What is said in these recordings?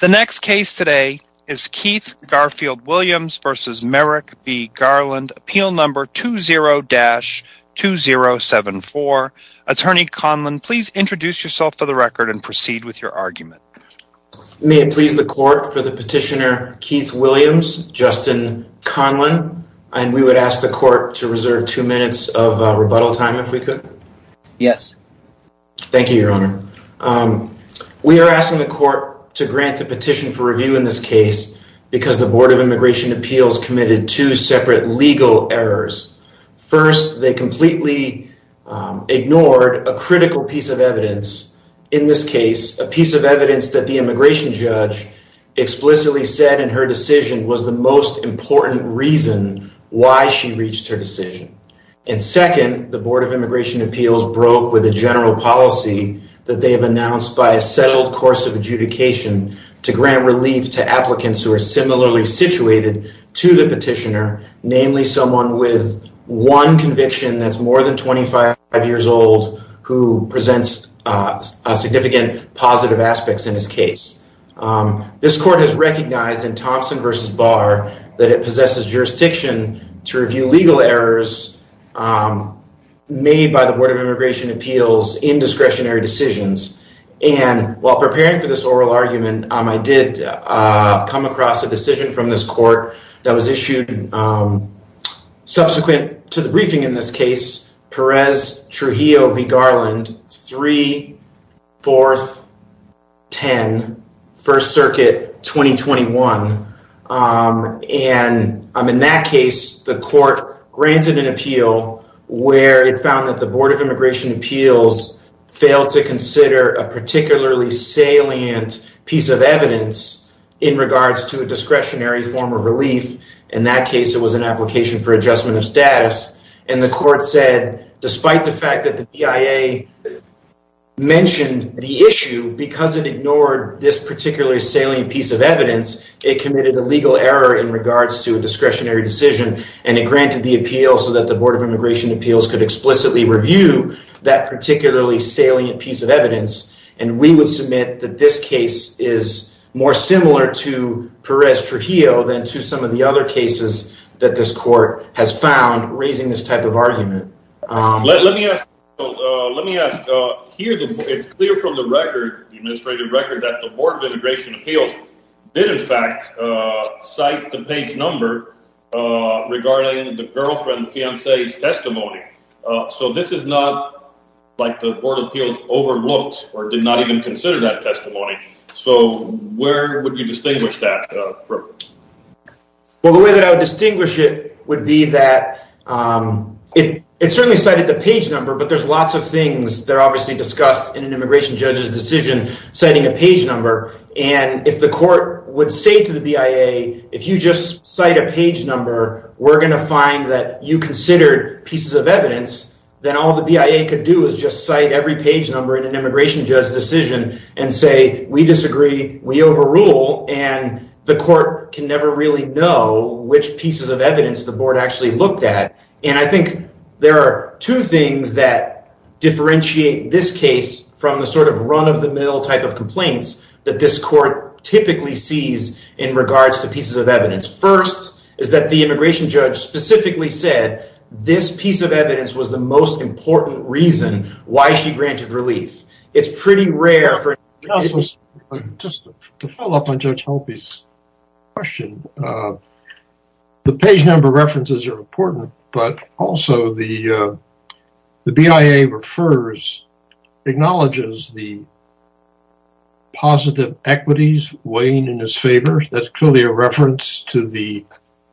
The next case today is Keith Garfield Williams v. Merrick B. Garland, Appeal No. 20-2074. Attorney Conlon, please introduce yourself for the record and proceed with your argument. May it please the court for the petitioner Keith Williams, Justin Conlon. And we would ask the court to reserve two minutes of rebuttal time if we could. Yes. Thank you, Your Honor. We are asking the court to grant the petition for review in this case because the Board of Immigration Appeals committed two separate legal errors. First, they completely ignored a critical piece of evidence. In this case, a piece of evidence that the immigration judge explicitly said in her decision was the most important reason why she reached her decision. And second, the Board of Immigration Appeals broke with a general policy that they have announced by a settled course of adjudication to grant relief to applicants who are similarly situated to the petitioner, namely someone with one conviction that's more than 25 years old who presents significant positive aspects in this case. This court has recognized in Thompson v. Barr that it possesses jurisdiction to review legal errors made by the Board of Immigration Appeals in discretionary decisions. And while preparing for this oral argument, I did come across a decision from this court that was issued subsequent to the briefing in this case, Perez Trujillo v. Garland, 3-4-10, First Circuit, 2021. And in that case, the court granted an appeal where it found that the Board of Immigration Appeals failed to consider a particularly salient piece of evidence in regards to a discretionary form of relief. In that case, it was an application for adjustment of status. And the court said, despite the fact that the BIA mentioned the issue, because it ignored this particularly salient piece of evidence, it committed a legal error in regards to a discretionary decision. And it granted the appeal so that the Board of Immigration Appeals could explicitly review that particularly salient piece of evidence. And we would submit that this case is more similar to Perez Trujillo than to some of the other cases that this court has found raising this type of argument. Let me ask, here it's clear from the record, the administrative record, that the Board of Immigration Appeals did in fact cite the page number regarding the girlfriend's fiancé's testimony. So this is not like the Board of Immigration Appeals overlooked or did not even consider that testimony. So where would you distinguish that from? Well, the way that I would distinguish it would be that it certainly cited the page number, but there's lots of things that are obviously discussed in an immigration judge's decision citing a page number. And if the court would say to the BIA, if you just cite a page number, we're going to find that you considered pieces of evidence, then all the BIA could do is just cite every page number in an immigration judge's decision and say, we disagree, we overrule. And the court can never really know which pieces of evidence the board actually looked at. And I think there are two things that differentiate this case from the sort of run-of-the-mill type of complaints that this court typically sees in regards to pieces of evidence. First is that the immigration judge specifically said this piece of evidence was the most important reason why she granted relief. It's pretty rare. Just to follow up on Judge Halpy's question, the page number references are important, but also the BIA refers, acknowledges the positive equities weighing in his favor. That's clearly a reference to the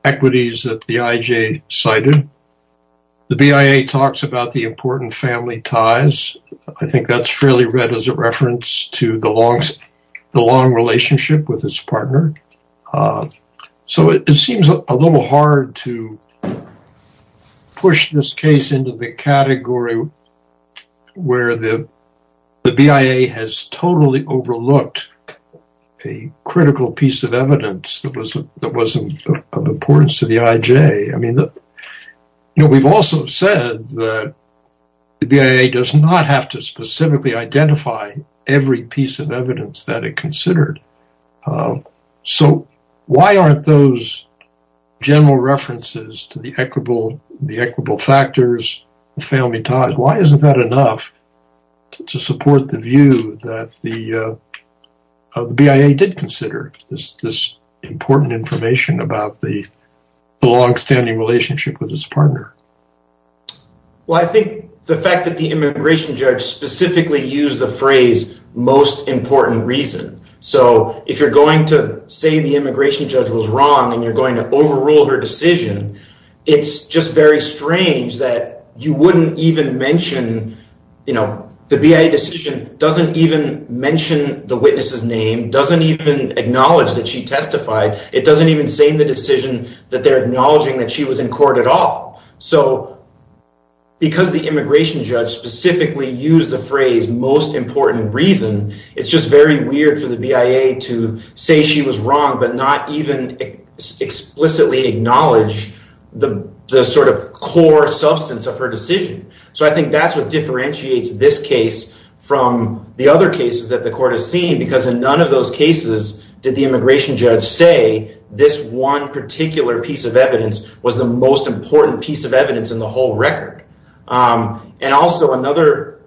equities that the IJ cited. The BIA talks about the important family ties. I think that's fairly read as a reference to the long relationship with his partner. So it seems a little hard to push this case into the category where the BIA has totally overlooked a critical piece of evidence that wasn't of importance to the IJ. We've also said that the BIA does not have to specifically identify every piece of evidence that it considered. So why aren't those general references to the equitable factors, the family ties, why isn't that enough to support the view that the BIA did consider this important information about the longstanding relationship with his partner? Well, I think the fact that the immigration judge specifically used the phrase most important reason. So if you're going to say the immigration judge was wrong and you're going to overrule her decision, it's just very strange that you wouldn't even mention, you know, the BIA decision doesn't even mention the witness's name, doesn't even acknowledge that she testified. It doesn't even say in the decision that they're acknowledging that she was in court at all. So because the immigration judge specifically used the phrase most important reason, it's just very weird for the BIA to say she was wrong, but not even explicitly acknowledge the sort of core substance of her decision. So I think that's what differentiates this case from the other cases that the court has seen because in none of those cases did the immigration judge say this one particular piece of evidence was the most important piece of evidence in the whole record. And also another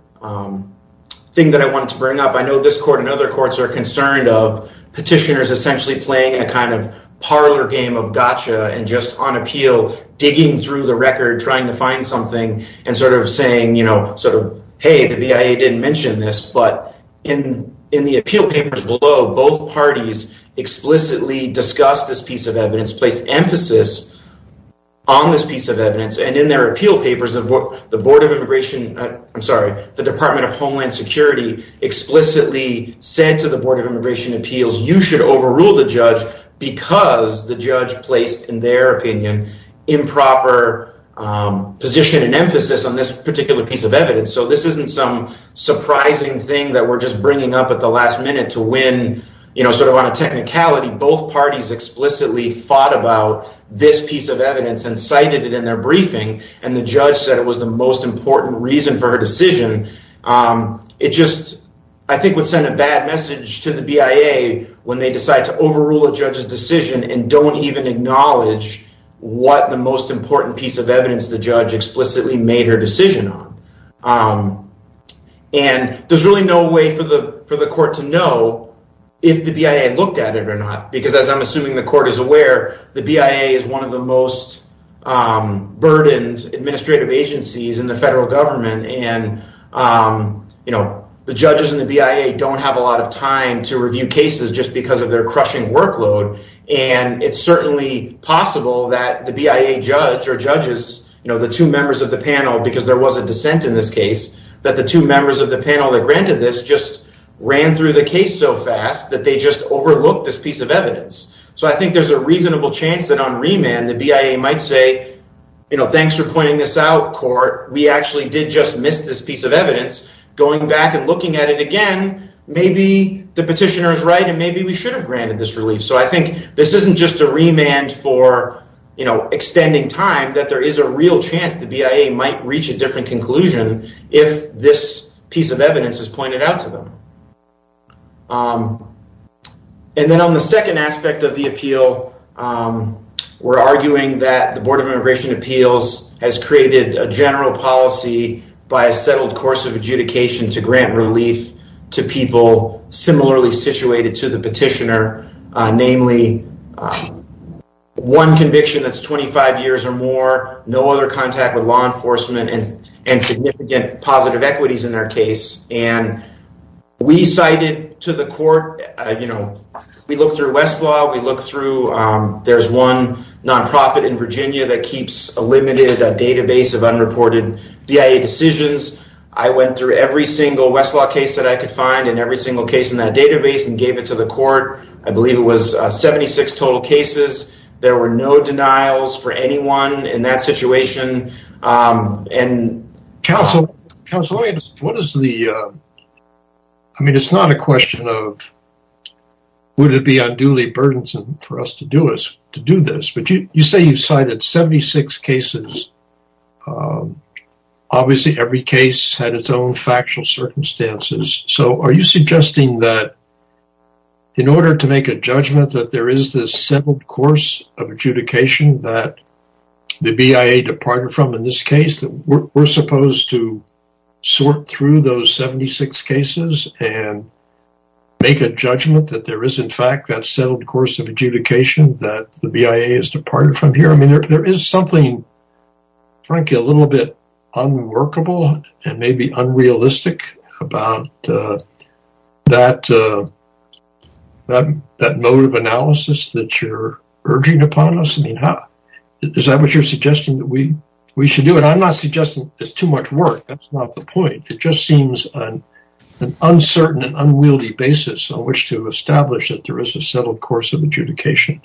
thing that I wanted to bring up, I know this court and other courts are concerned of petitioners essentially playing a kind of parlor game of gotcha and just on appeal digging through the record, trying to find something and sort of saying, you both parties explicitly discussed this piece of evidence, placed emphasis on this piece of evidence and in their appeal papers of what the board of immigration, I'm sorry, the department of Homeland Security explicitly said to the board of immigration appeals, you should overrule the judge because the judge placed in their opinion, improper position and emphasis on this particular piece of evidence. So this isn't some surprising thing that we're just bringing up at the last minute to win, you know, sort of on a technicality, both parties explicitly fought about this piece of evidence and cited it in their briefing. And the judge said it was the most important reason for her decision. It just, I think would send a bad message to the BIA when they decide to overrule a judge's decision and don't even acknowledge what the most important piece of evidence the judge explicitly made her decision on. And there's really no way for the court to know if the BIA looked at it or not, because as I'm assuming the court is aware, the BIA is one of the most burdened administrative agencies in the federal government. And, you know, the judges in the BIA don't have a lot of time to review cases just because of their crushing workload. And it's certainly possible that the BIA judge or judges, you know, the two members of the panel, because there was a dissent in this case, that the two members of the panel that granted this just ran through the case so fast that they just overlooked this piece of evidence. So I think there's a reasonable chance that on remand, the BIA might say, you know, thanks for pointing this out, court. We actually did just miss this piece of evidence. Going back and looking at it again, maybe the petitioner is right and maybe we should have granted this relief. So I think this isn't just a remand for, you know, extending time, that there is a real chance the BIA might reach a different conclusion if this piece of evidence is pointed out to them. And then on the second aspect of the appeal, we're arguing that the Board of Immigration Appeals has created a general policy by a settled course of adjudication to grant relief to people similarly situated to the petitioner. Namely, one conviction that's 25 years or more, no other contact with law enforcement and significant positive equities in their case. And we cited to the court, you know, we looked through Westlaw, we looked through, there's one nonprofit in Virginia that keeps a limited database of unreported BIA decisions. I went through every single Westlaw case that I could find and every single case in that database and gave it to the court. I believe it was 76 total cases. There were no denials for anyone in that situation. And... Counsel, what is the, I mean, it's not a question of, would it be unduly burdensome for us to do this? But you say you cited 76 cases. Obviously, every case had its own factual circumstances. So, are you suggesting that in order to make a judgment that there is this settled course of adjudication that the BIA departed from in this case, that we're supposed to sort through those 76 cases and make a judgment that there is in fact that settled course of adjudication that the BIA is departed from here? I mean, there is something, frankly, a little bit unworkable and maybe unrealistic about that mode of analysis that you're urging upon us. I mean, is that what you're suggesting that we should do? And I'm not suggesting it's too much work. That's not the point. It just seems an uncertain and unwieldy basis on which to establish that there is a settled course of adjudication.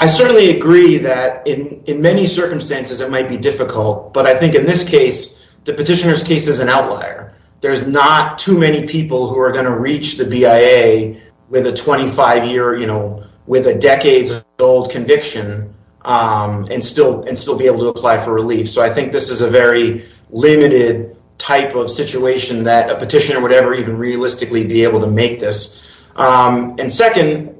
I certainly agree that in many circumstances, it might be difficult. But I think in this case, the petitioner's case is an outlier. There's not too many people who are going to reach the BIA with a 25-year, you know, with a decades-old conviction and still be able to apply for relief. So, I think this is a very limited type of situation that a petitioner would ever even realistically be able to make this. And second,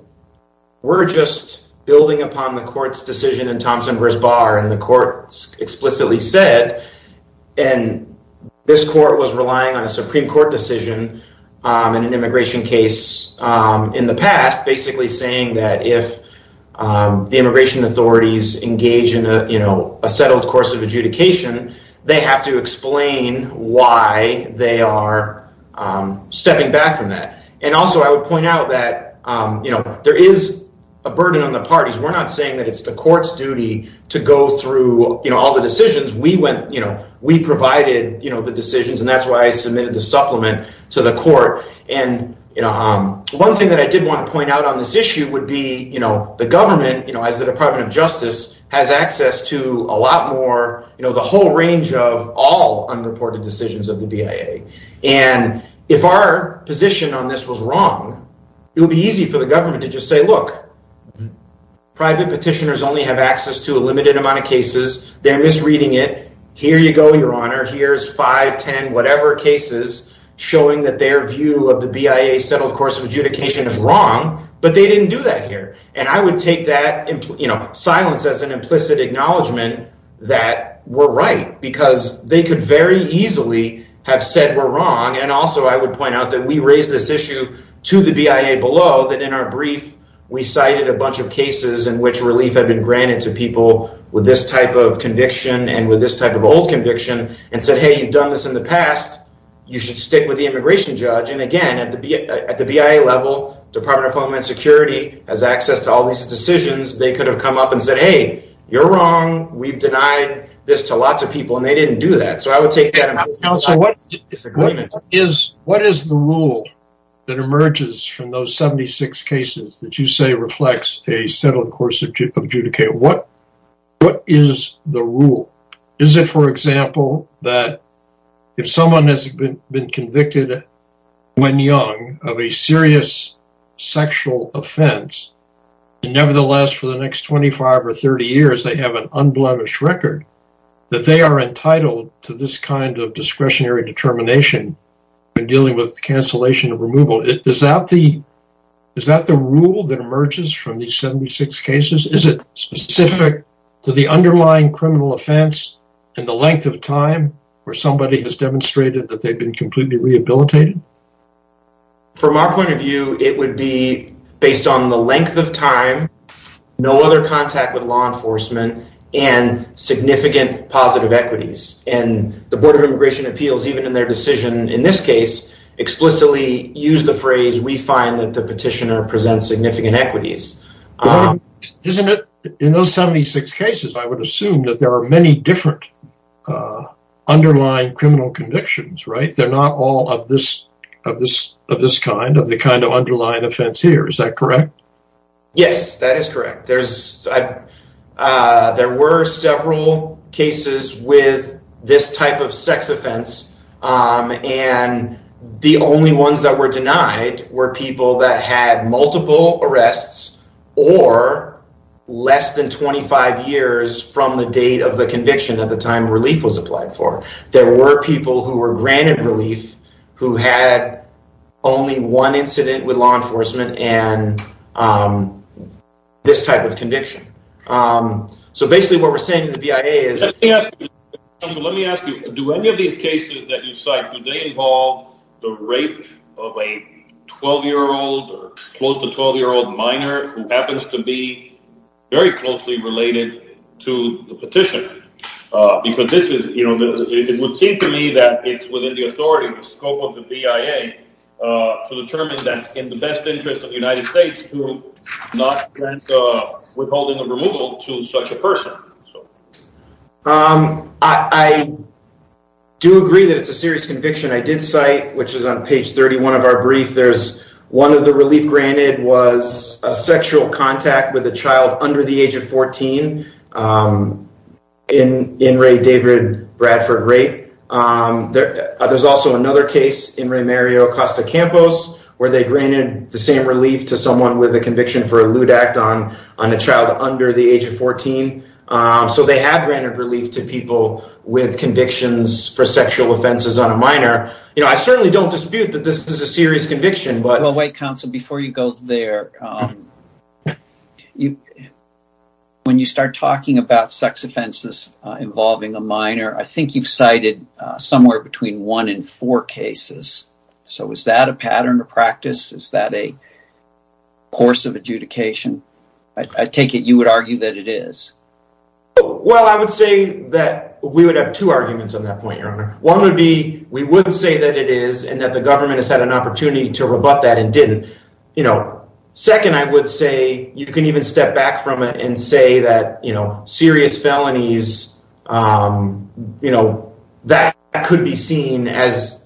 we're just building upon the court's decision in Thompson v. Barr, and the court explicitly said, and this court was relying on a Supreme Court decision in an immigration case in the past, basically saying that if the immigration authorities engage in, you know, a settled course of adjudication, they have to explain why they are stepping back from that. And also, I would point out that, you know, there is a burden on the parties. We're not saying that it's the court's duty to go through, you know, all the decisions. We went, you know, we provided, you know, the decisions, and that's why I submitted the supplement to the court. And, you know, one thing that I did want to point out on this issue would be, you know, the government, you know, as the Department of Justice, has access to a lot more, you know, the whole range of all unreported decisions of the BIA. And if our position on this was wrong, it would be easy for the government to just say, look, private petitioners only have access to a limited amount of cases. They're misreading it. Here you go, Your Honor. Here's 5, 10, whatever cases showing that their view of the BIA settled course of adjudication is wrong, but they didn't do that here. And I would take that, you know, silence as an implicit acknowledgement that we're right because they could very easily have said we're wrong. And also, I would point out that we raised this issue to the BIA below that in our brief, we cited a bunch of cases in which relief had been granted to people with this type of conviction and with this type of old conviction and said, hey, you've done this in the past. You should stick with the immigration judge. And again, at the BIA level, Department of Homeland Security has access to all these decisions. They could have come up and said, hey, you're wrong. We've denied this to lots of people. And they didn't do that. So I would take that. So what is the rule that emerges from those 76 cases that you say reflects a settled course of adjudication? What is the rule? Is it, for example, that if someone has been convicted when young of a serious sexual offense, and nevertheless, for the next 25 or 30 years, they have an unblemished record, that they are entitled to this kind of discretionary determination when dealing with cancellation of removal? Is that the rule that emerges from these 76 cases? Is it specific to the underlying criminal offense and the length of time where somebody has demonstrated that they've been completely rehabilitated? From our point of view, it would be based on the length of time, no other contact with law enforcement, and significant positive equities. And the Board of Immigration Appeals, even in their decision in this case, explicitly used the phrase, we find that the petitioner presents significant equities. Isn't it in those 76 cases, I would assume that there are many different underlying criminal convictions, right? I think they're not all of this kind, of the kind of underlying offense here, is that correct? Yes, that is correct. There were several cases with this type of sex offense, and the only ones that were denied were people that had multiple arrests or less than 25 years from the date of the conviction at the time relief was applied for. There were people who were granted relief who had only one incident with law enforcement and this type of conviction. So basically what we're saying to the BIA is... Let me ask you, do any of these cases that you cite, do they involve the rape of a 12 year old or close to 12 year old minor who happens to be very closely related to the petition? Because it would seem to me that it's within the authority of the scope of the BIA to determine that in the best interest of the United States to not withholding a removal to such a person. I do agree that it's a serious conviction. I did cite, which is on page 31 of our brief, one of the relief granted was a sexual contact with a child under the age of 14 in Ray David Bradford Rape. There's also another case in Ray Mario Acosta Campos where they granted the same relief to someone with a conviction for a lewd act on a child under the age of 14. So they have granted relief to people with convictions for sexual offenses on a minor. I certainly don't dispute that this is a serious conviction. Wait, counsel, before you go there, when you start talking about sex offenses involving a minor, I think you've cited somewhere between one and four cases. So is that a pattern of practice? Is that a course of adjudication? I take it you would argue that it is. Well, I would say that we would have two arguments on that point, your honor. One would be, we would say that it is and that the government has had an opportunity to rebut that and didn't. Second, I would say you can even step back from it and say that serious felonies, that could be seen as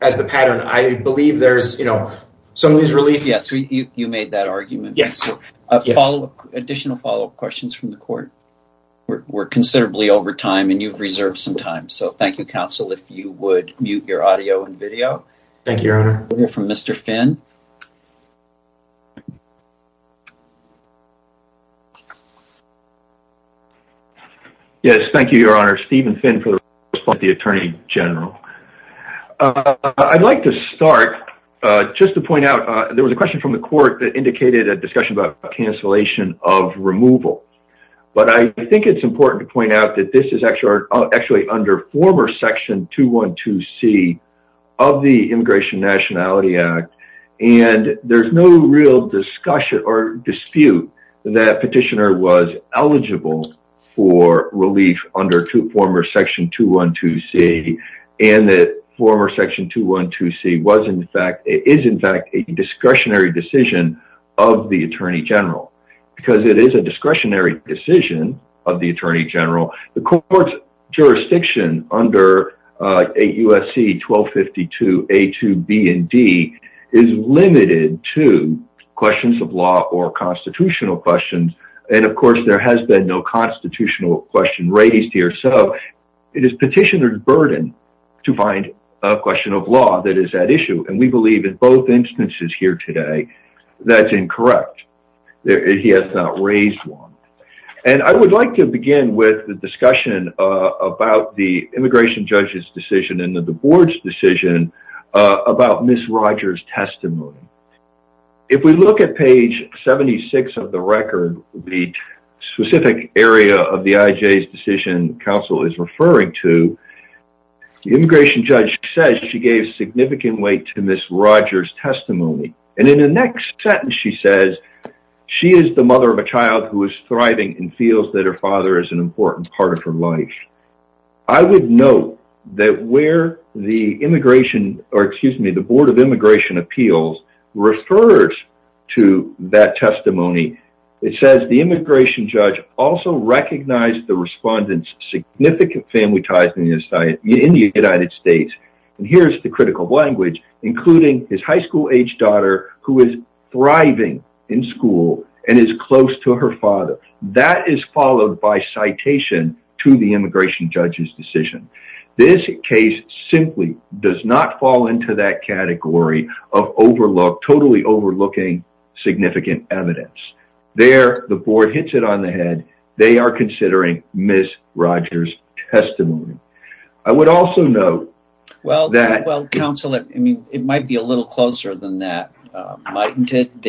the pattern. I believe there's some of these reliefs. Yes, you made that argument. Additional follow-up questions from the court. We're considerably over time and you've reserved some time. So thank you, counsel, if you would mute your audio and video. Thank you, your honor. We'll hear from Mr. Finn. Yes, thank you, your honor. Steven Finn for the response to the attorney general. I'd like to start just to point out, there was a question from the court that indicated a discussion about cancellation of removal. But I think it's important to point out that this is actually under former section 212C of the Immigration Nationality Act. And there's no real discussion or dispute that petitioner was eligible for relief under former section 212C and that former section 212C was in fact, is in fact, a discretionary decision of the attorney general. Because it is a discretionary decision of the attorney general. The court's jurisdiction under USC 1252A2B and D is limited to questions of law or constitutional questions. And of course, there has been no constitutional question raised here. So it is petitioner's burden to find a question of law that is at issue. And we believe in both instances here today, that's incorrect. He has not raised one. And I would like to begin with the discussion about the immigration judge's decision and the board's decision about Ms. Rogers' testimony. If we look at page 76 of the record, the specific area of the IJ's decision counsel is referring to, the immigration judge says she gave significant weight to Ms. Rogers' testimony. And in the next sentence she says, she is the mother of a child who is thriving and feels that her father is an important part of her life. I would note that where the immigration, or excuse me, the board of immigration appeals refers to that testimony, it says the immigration judge also recognized the respondent's significant family ties in the United States. And here's the critical language, including his high school-aged daughter who is thriving in school and is close to her father. That is followed by citation to the immigration judge's decision. This case simply does not fall into that category of overlook, totally overlooking significant evidence. There, the board hits it on the head. They are considering Ms. Rogers' testimony. I would also note that... Well, counsel, it might be a little closer than that. Mightn't it?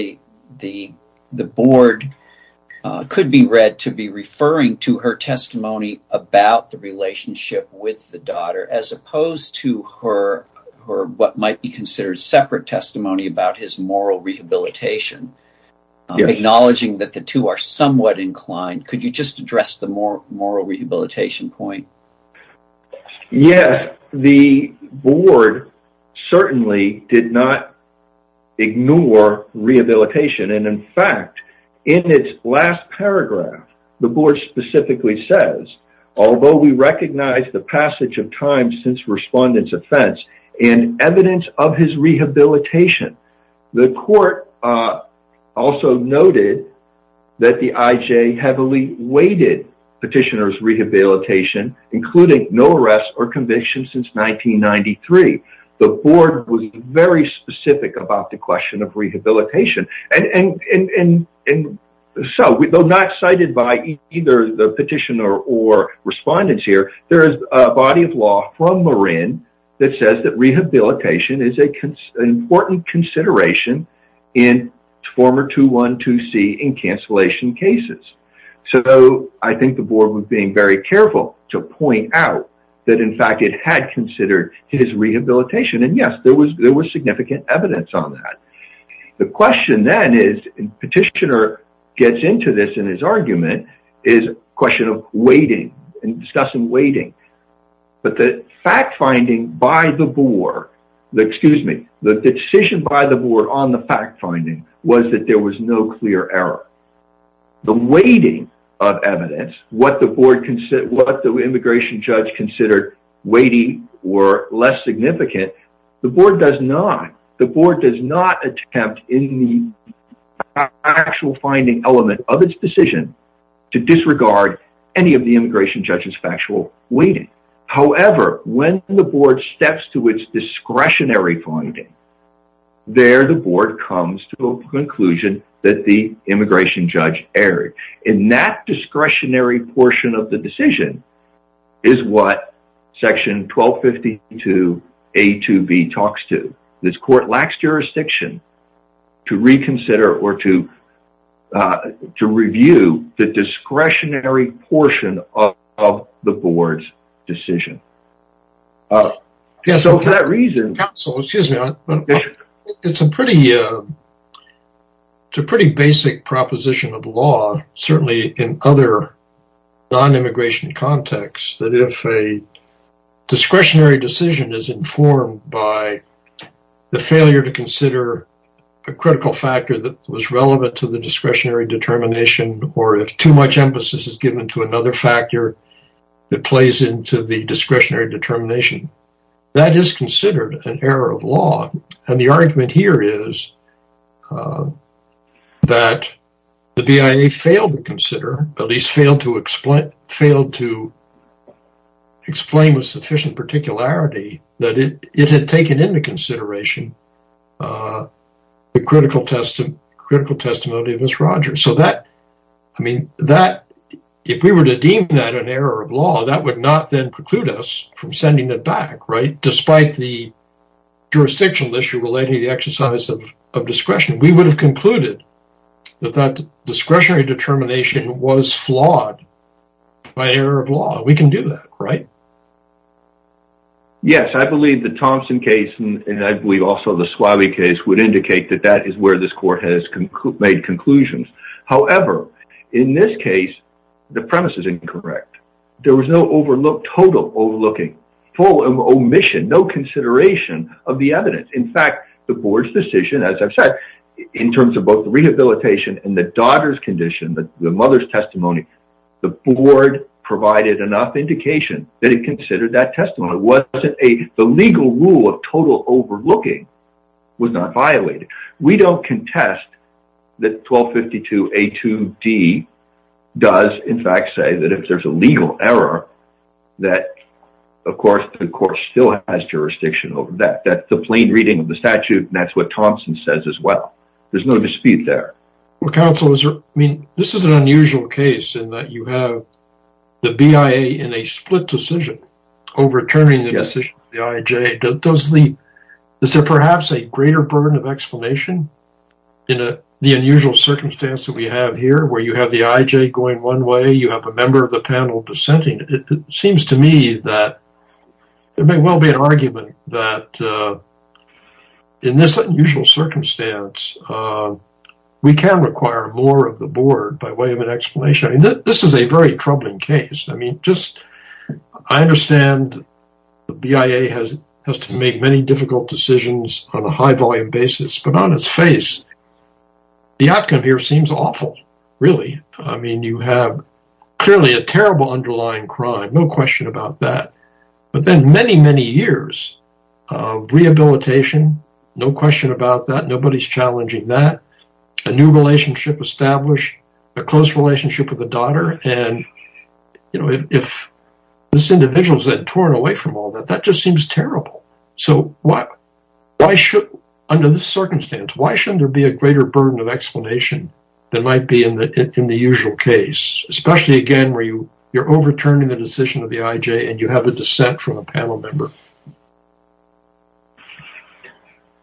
The board could be read to be referring to her testimony about the relationship with the daughter as opposed to her, what might be considered separate testimony about his moral rehabilitation. Acknowledging that the two are somewhat inclined. Could you just address the moral rehabilitation point? Yes. The board certainly did not ignore rehabilitation. And in fact, in its last paragraph, the board specifically says, although we recognize the passage of time since respondent's offense and evidence of his rehabilitation, the court also noted that the IJ heavily weighted petitioner's rehabilitation, including no arrest or conviction since 1993. The board was very specific about the question of rehabilitation. And so, though not cited by either the petitioner or respondents here, there is a body of law from Marin that says that rehabilitation is an important consideration in former 212C and cancellation cases. So, I think the board was being very careful to point out that in fact it had considered his rehabilitation. And yes, there was significant evidence on that. The question then is, petitioner gets into this in his argument, is a question of weighting. Discussing weighting. But the fact finding by the board, excuse me, the decision by the board on the fact finding was that there was no clear error. The weighting of evidence, what the immigration judge considered weighty or less significant, the board does not. The board does not attempt in the actual finding element of its decision to disregard any of the weighting. However, when the board steps to its discretionary finding, there the board comes to a conclusion that the immigration judge erred. And that discretionary portion of the decision is what section 1252A2B talks to. This court lacks jurisdiction to reconsider or to review the discretionary portion of the board's decision. So, for that reason... Counsel, excuse me, it's a pretty basic proposition of law, certainly in other non-immigration contexts, that if a discretionary decision is informed by the failure to consider a critical factor that was relevant to the discretionary determination, or if too much emphasis is given to another factor, it plays into the discretionary determination. And the argument here is that the BIA failed to consider, at least failed to explain with sufficient particularity, that it had taken into consideration the critical testimony of Miss Rogers. So that, I mean, if we were to deem that an error of law, that would not then preclude us from sending it back, right? If it was a jurisdictional issue relating to the exercise of discretion, we would have concluded that that discretionary determination was flawed by error of law. We can do that, right? Yes, I believe the Thompson case, and I believe also the Suave case, would indicate that that is where this court has made conclusions. However, in this case, the premise is incorrect. There was no total overlooking, full omission, no consideration of the evidence. In fact, the board's decision, as I've said, in terms of both the rehabilitation and the daughter's condition, the mother's testimony, the board provided enough indication that it considered that testimony. The legal rule of total overlooking was not violated. We don't contest that 1252A2D does, in fact, say that if there's a legal error, that, of course, the court still has jurisdiction over that. That's a plain reading of the statute, and that's what Thompson says as well. There's no dispute there. Well, counsel, I mean, this is an unusual case in that you have the BIA in a split decision overturning the decision of the IJ. Is there perhaps a greater burden of explanation in the unusual circumstance that we have here, where you have the IJ going one way, you have a member of the panel dissenting? It seems to me that there may well be an argument that in this unusual circumstance, we can require more of the board by way of an explanation. This is a very troubling case. I understand the BIA has to make many difficult decisions on a high volume basis, but on its face, the outcome here seems awful, really. I mean, you have clearly a terrible underlying crime, no question about that, but then many, many years of rehabilitation, no question about that, nobody's challenging that, a new If this individual is then torn away from all that, that just seems terrible. So under this circumstance, why shouldn't there be a greater burden of explanation than might be in the usual case, especially, again, where you're overturning the decision of the IJ and you have a dissent from a panel member?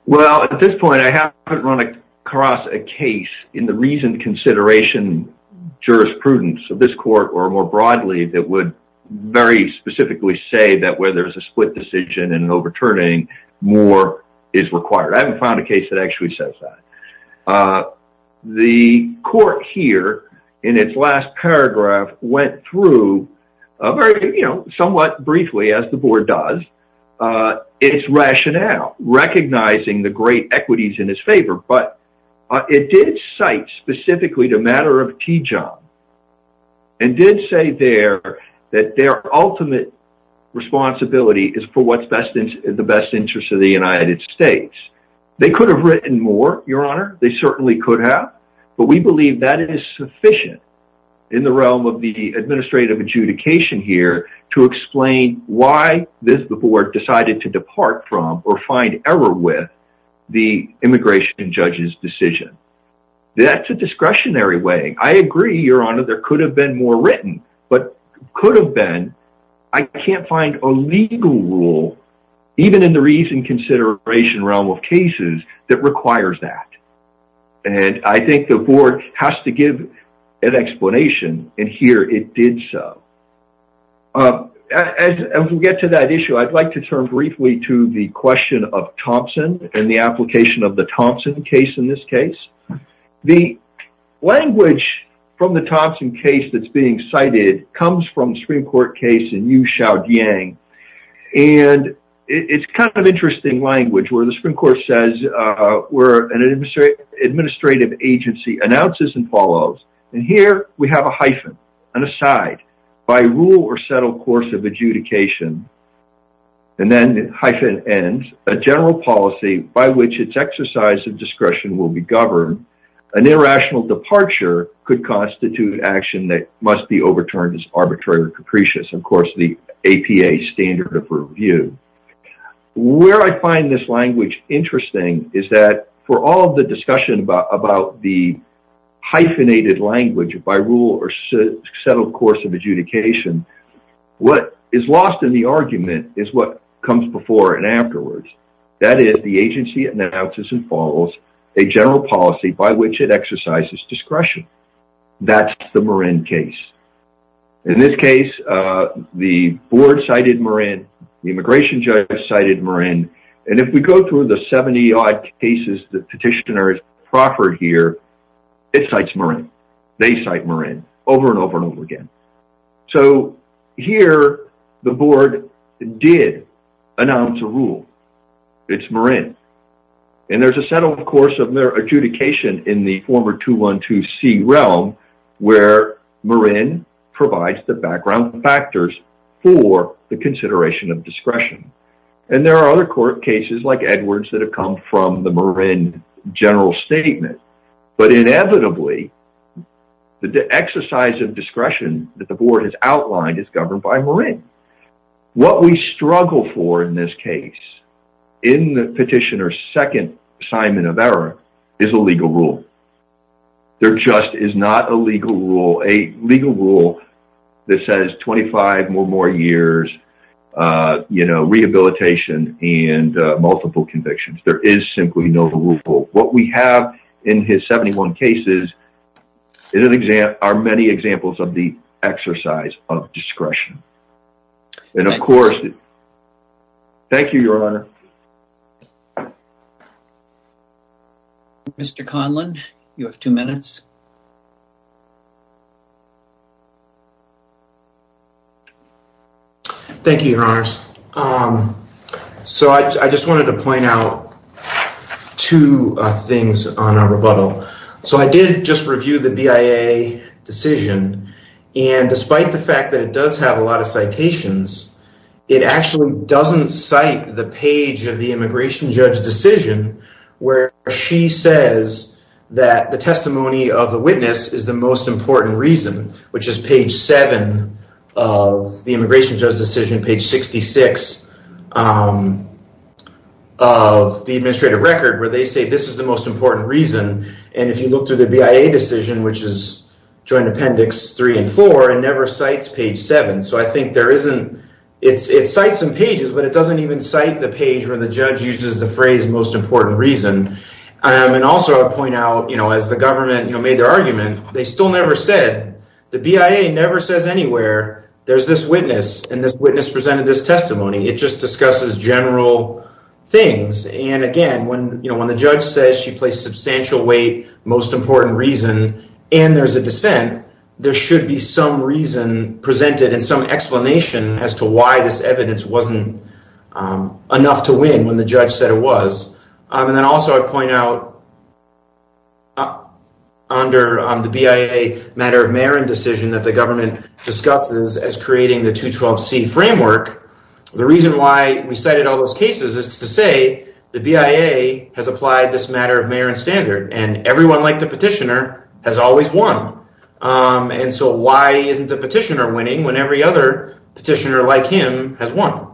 Well, at this point, I haven't run across a case in the reasoned consideration, jurisprudence of this court, or more broadly, that would very specifically say that where there's a split decision and overturning, more is required. I haven't found a case that actually says that. The court here in its last paragraph went through a very, you know, somewhat briefly as the board does, its rationale, recognizing the great equities in its favor, but it did cite specifically the matter of Tijon, and did say there that their ultimate responsibility is for what's the best interest of the United States. They could have written more, Your Honor, they certainly could have, but we believe that is sufficient in the realm of the administrative adjudication here to explain why the board decided to depart from or find error with the immigration judge's decision. That's a discretionary way. I agree, Your Honor, there could have been more written, but could have been, I can't find a legal rule, even in the reasoned consideration realm of cases, that requires that. And I think the board has to give an explanation, and here it did so. As we get to that issue, I'd like to turn briefly to the question of Thompson and the application of the Thompson case in this case. The language from the Thompson case that's being cited comes from the Supreme Court case in Yu-Shau-Diang, and it's kind of interesting language, where the Supreme Court says, where an administrative agency announces and follows, and here we have a hyphen, an aside, by rule or settled course of adjudication, and then hyphen ends, a general policy by which its exercise of discretion will be governed, an irrational departure could constitute action that must be overturned as arbitrarily capricious. Of course, the APA standard of review. Where I find this language interesting is that for all of the discussion about the hyphenated language by rule or settled course of adjudication, what is lost in the argument is what comes before and afterwards. That is, the agency announces and follows a general policy by which it exercises discretion. That's the Marin case. In this case, the board cited Marin, the immigration judge cited Marin, and if we go through the 70-odd cases that petitioners proffered here, it cites Marin. They cite Marin over and over and over again. So here, the board did announce a rule. It's Marin. And there's a settled course of adjudication in the former 212C realm where Marin provides the background factors for the consideration of discretion. And there are other court cases like Edwards that have come from the Marin general statement. But inevitably, the exercise of discretion that the board has outlined is governed by Marin. What we struggle for in this case, in the petitioner's second assignment of error, is a legal rule. There just is not a legal rule, a legal rule that says 25 or more years, you know, rehabilitation and multiple convictions. There is simply no rule. What we have in his 71 cases are many examples of the exercise of discretion. And of course, thank you, your honor. Mr. Conlon, you have two minutes. Thank you, your honors. So I just wanted to point out two things on our rebuttal. So I did just review the BIA decision. And despite the fact that it does have a lot of citations, it actually doesn't cite the page of the immigration judge decision where she says that the testimony of the witness is the most important reason, which is page 7 of the immigration judge decision, page 66 of the administrative record, where they say this is the most important reason. And if you look to the BIA decision, which is joint appendix 3 and 4, it never cites page 7. So I think there isn't, it cites some pages, but it doesn't even cite the page where the judge uses the phrase most important reason. And also I would point out, as the government made their argument, they still never said, the BIA never says anywhere, there's this witness and this witness presented this testimony. It just discusses general things. And again, when the judge says she placed substantial weight, most important reason, and there's a dissent, there should be some reason presented and some explanation as to why this evidence wasn't enough to win when the judge said it was. And then also I'd point out, under the BIA matter of Marin decision that the government discusses as creating the 212C framework, the reason why we cited all those cases is to say the BIA has applied this matter of Marin standard and everyone like the petitioner has always won. And so why isn't the petitioner winning when every other petitioner like him has won?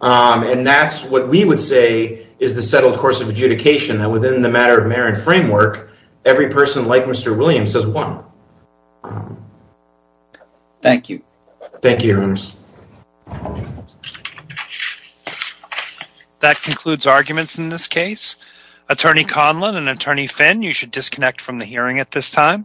And that's what we would say is the settled course of adjudication that within the matter of Marin framework, every person like Mr. Williams has won. Thank you. Thank you, Your Honors. That concludes arguments in this case. Attorney Conlon and Attorney Finn, you should disconnect from the hearing at this time.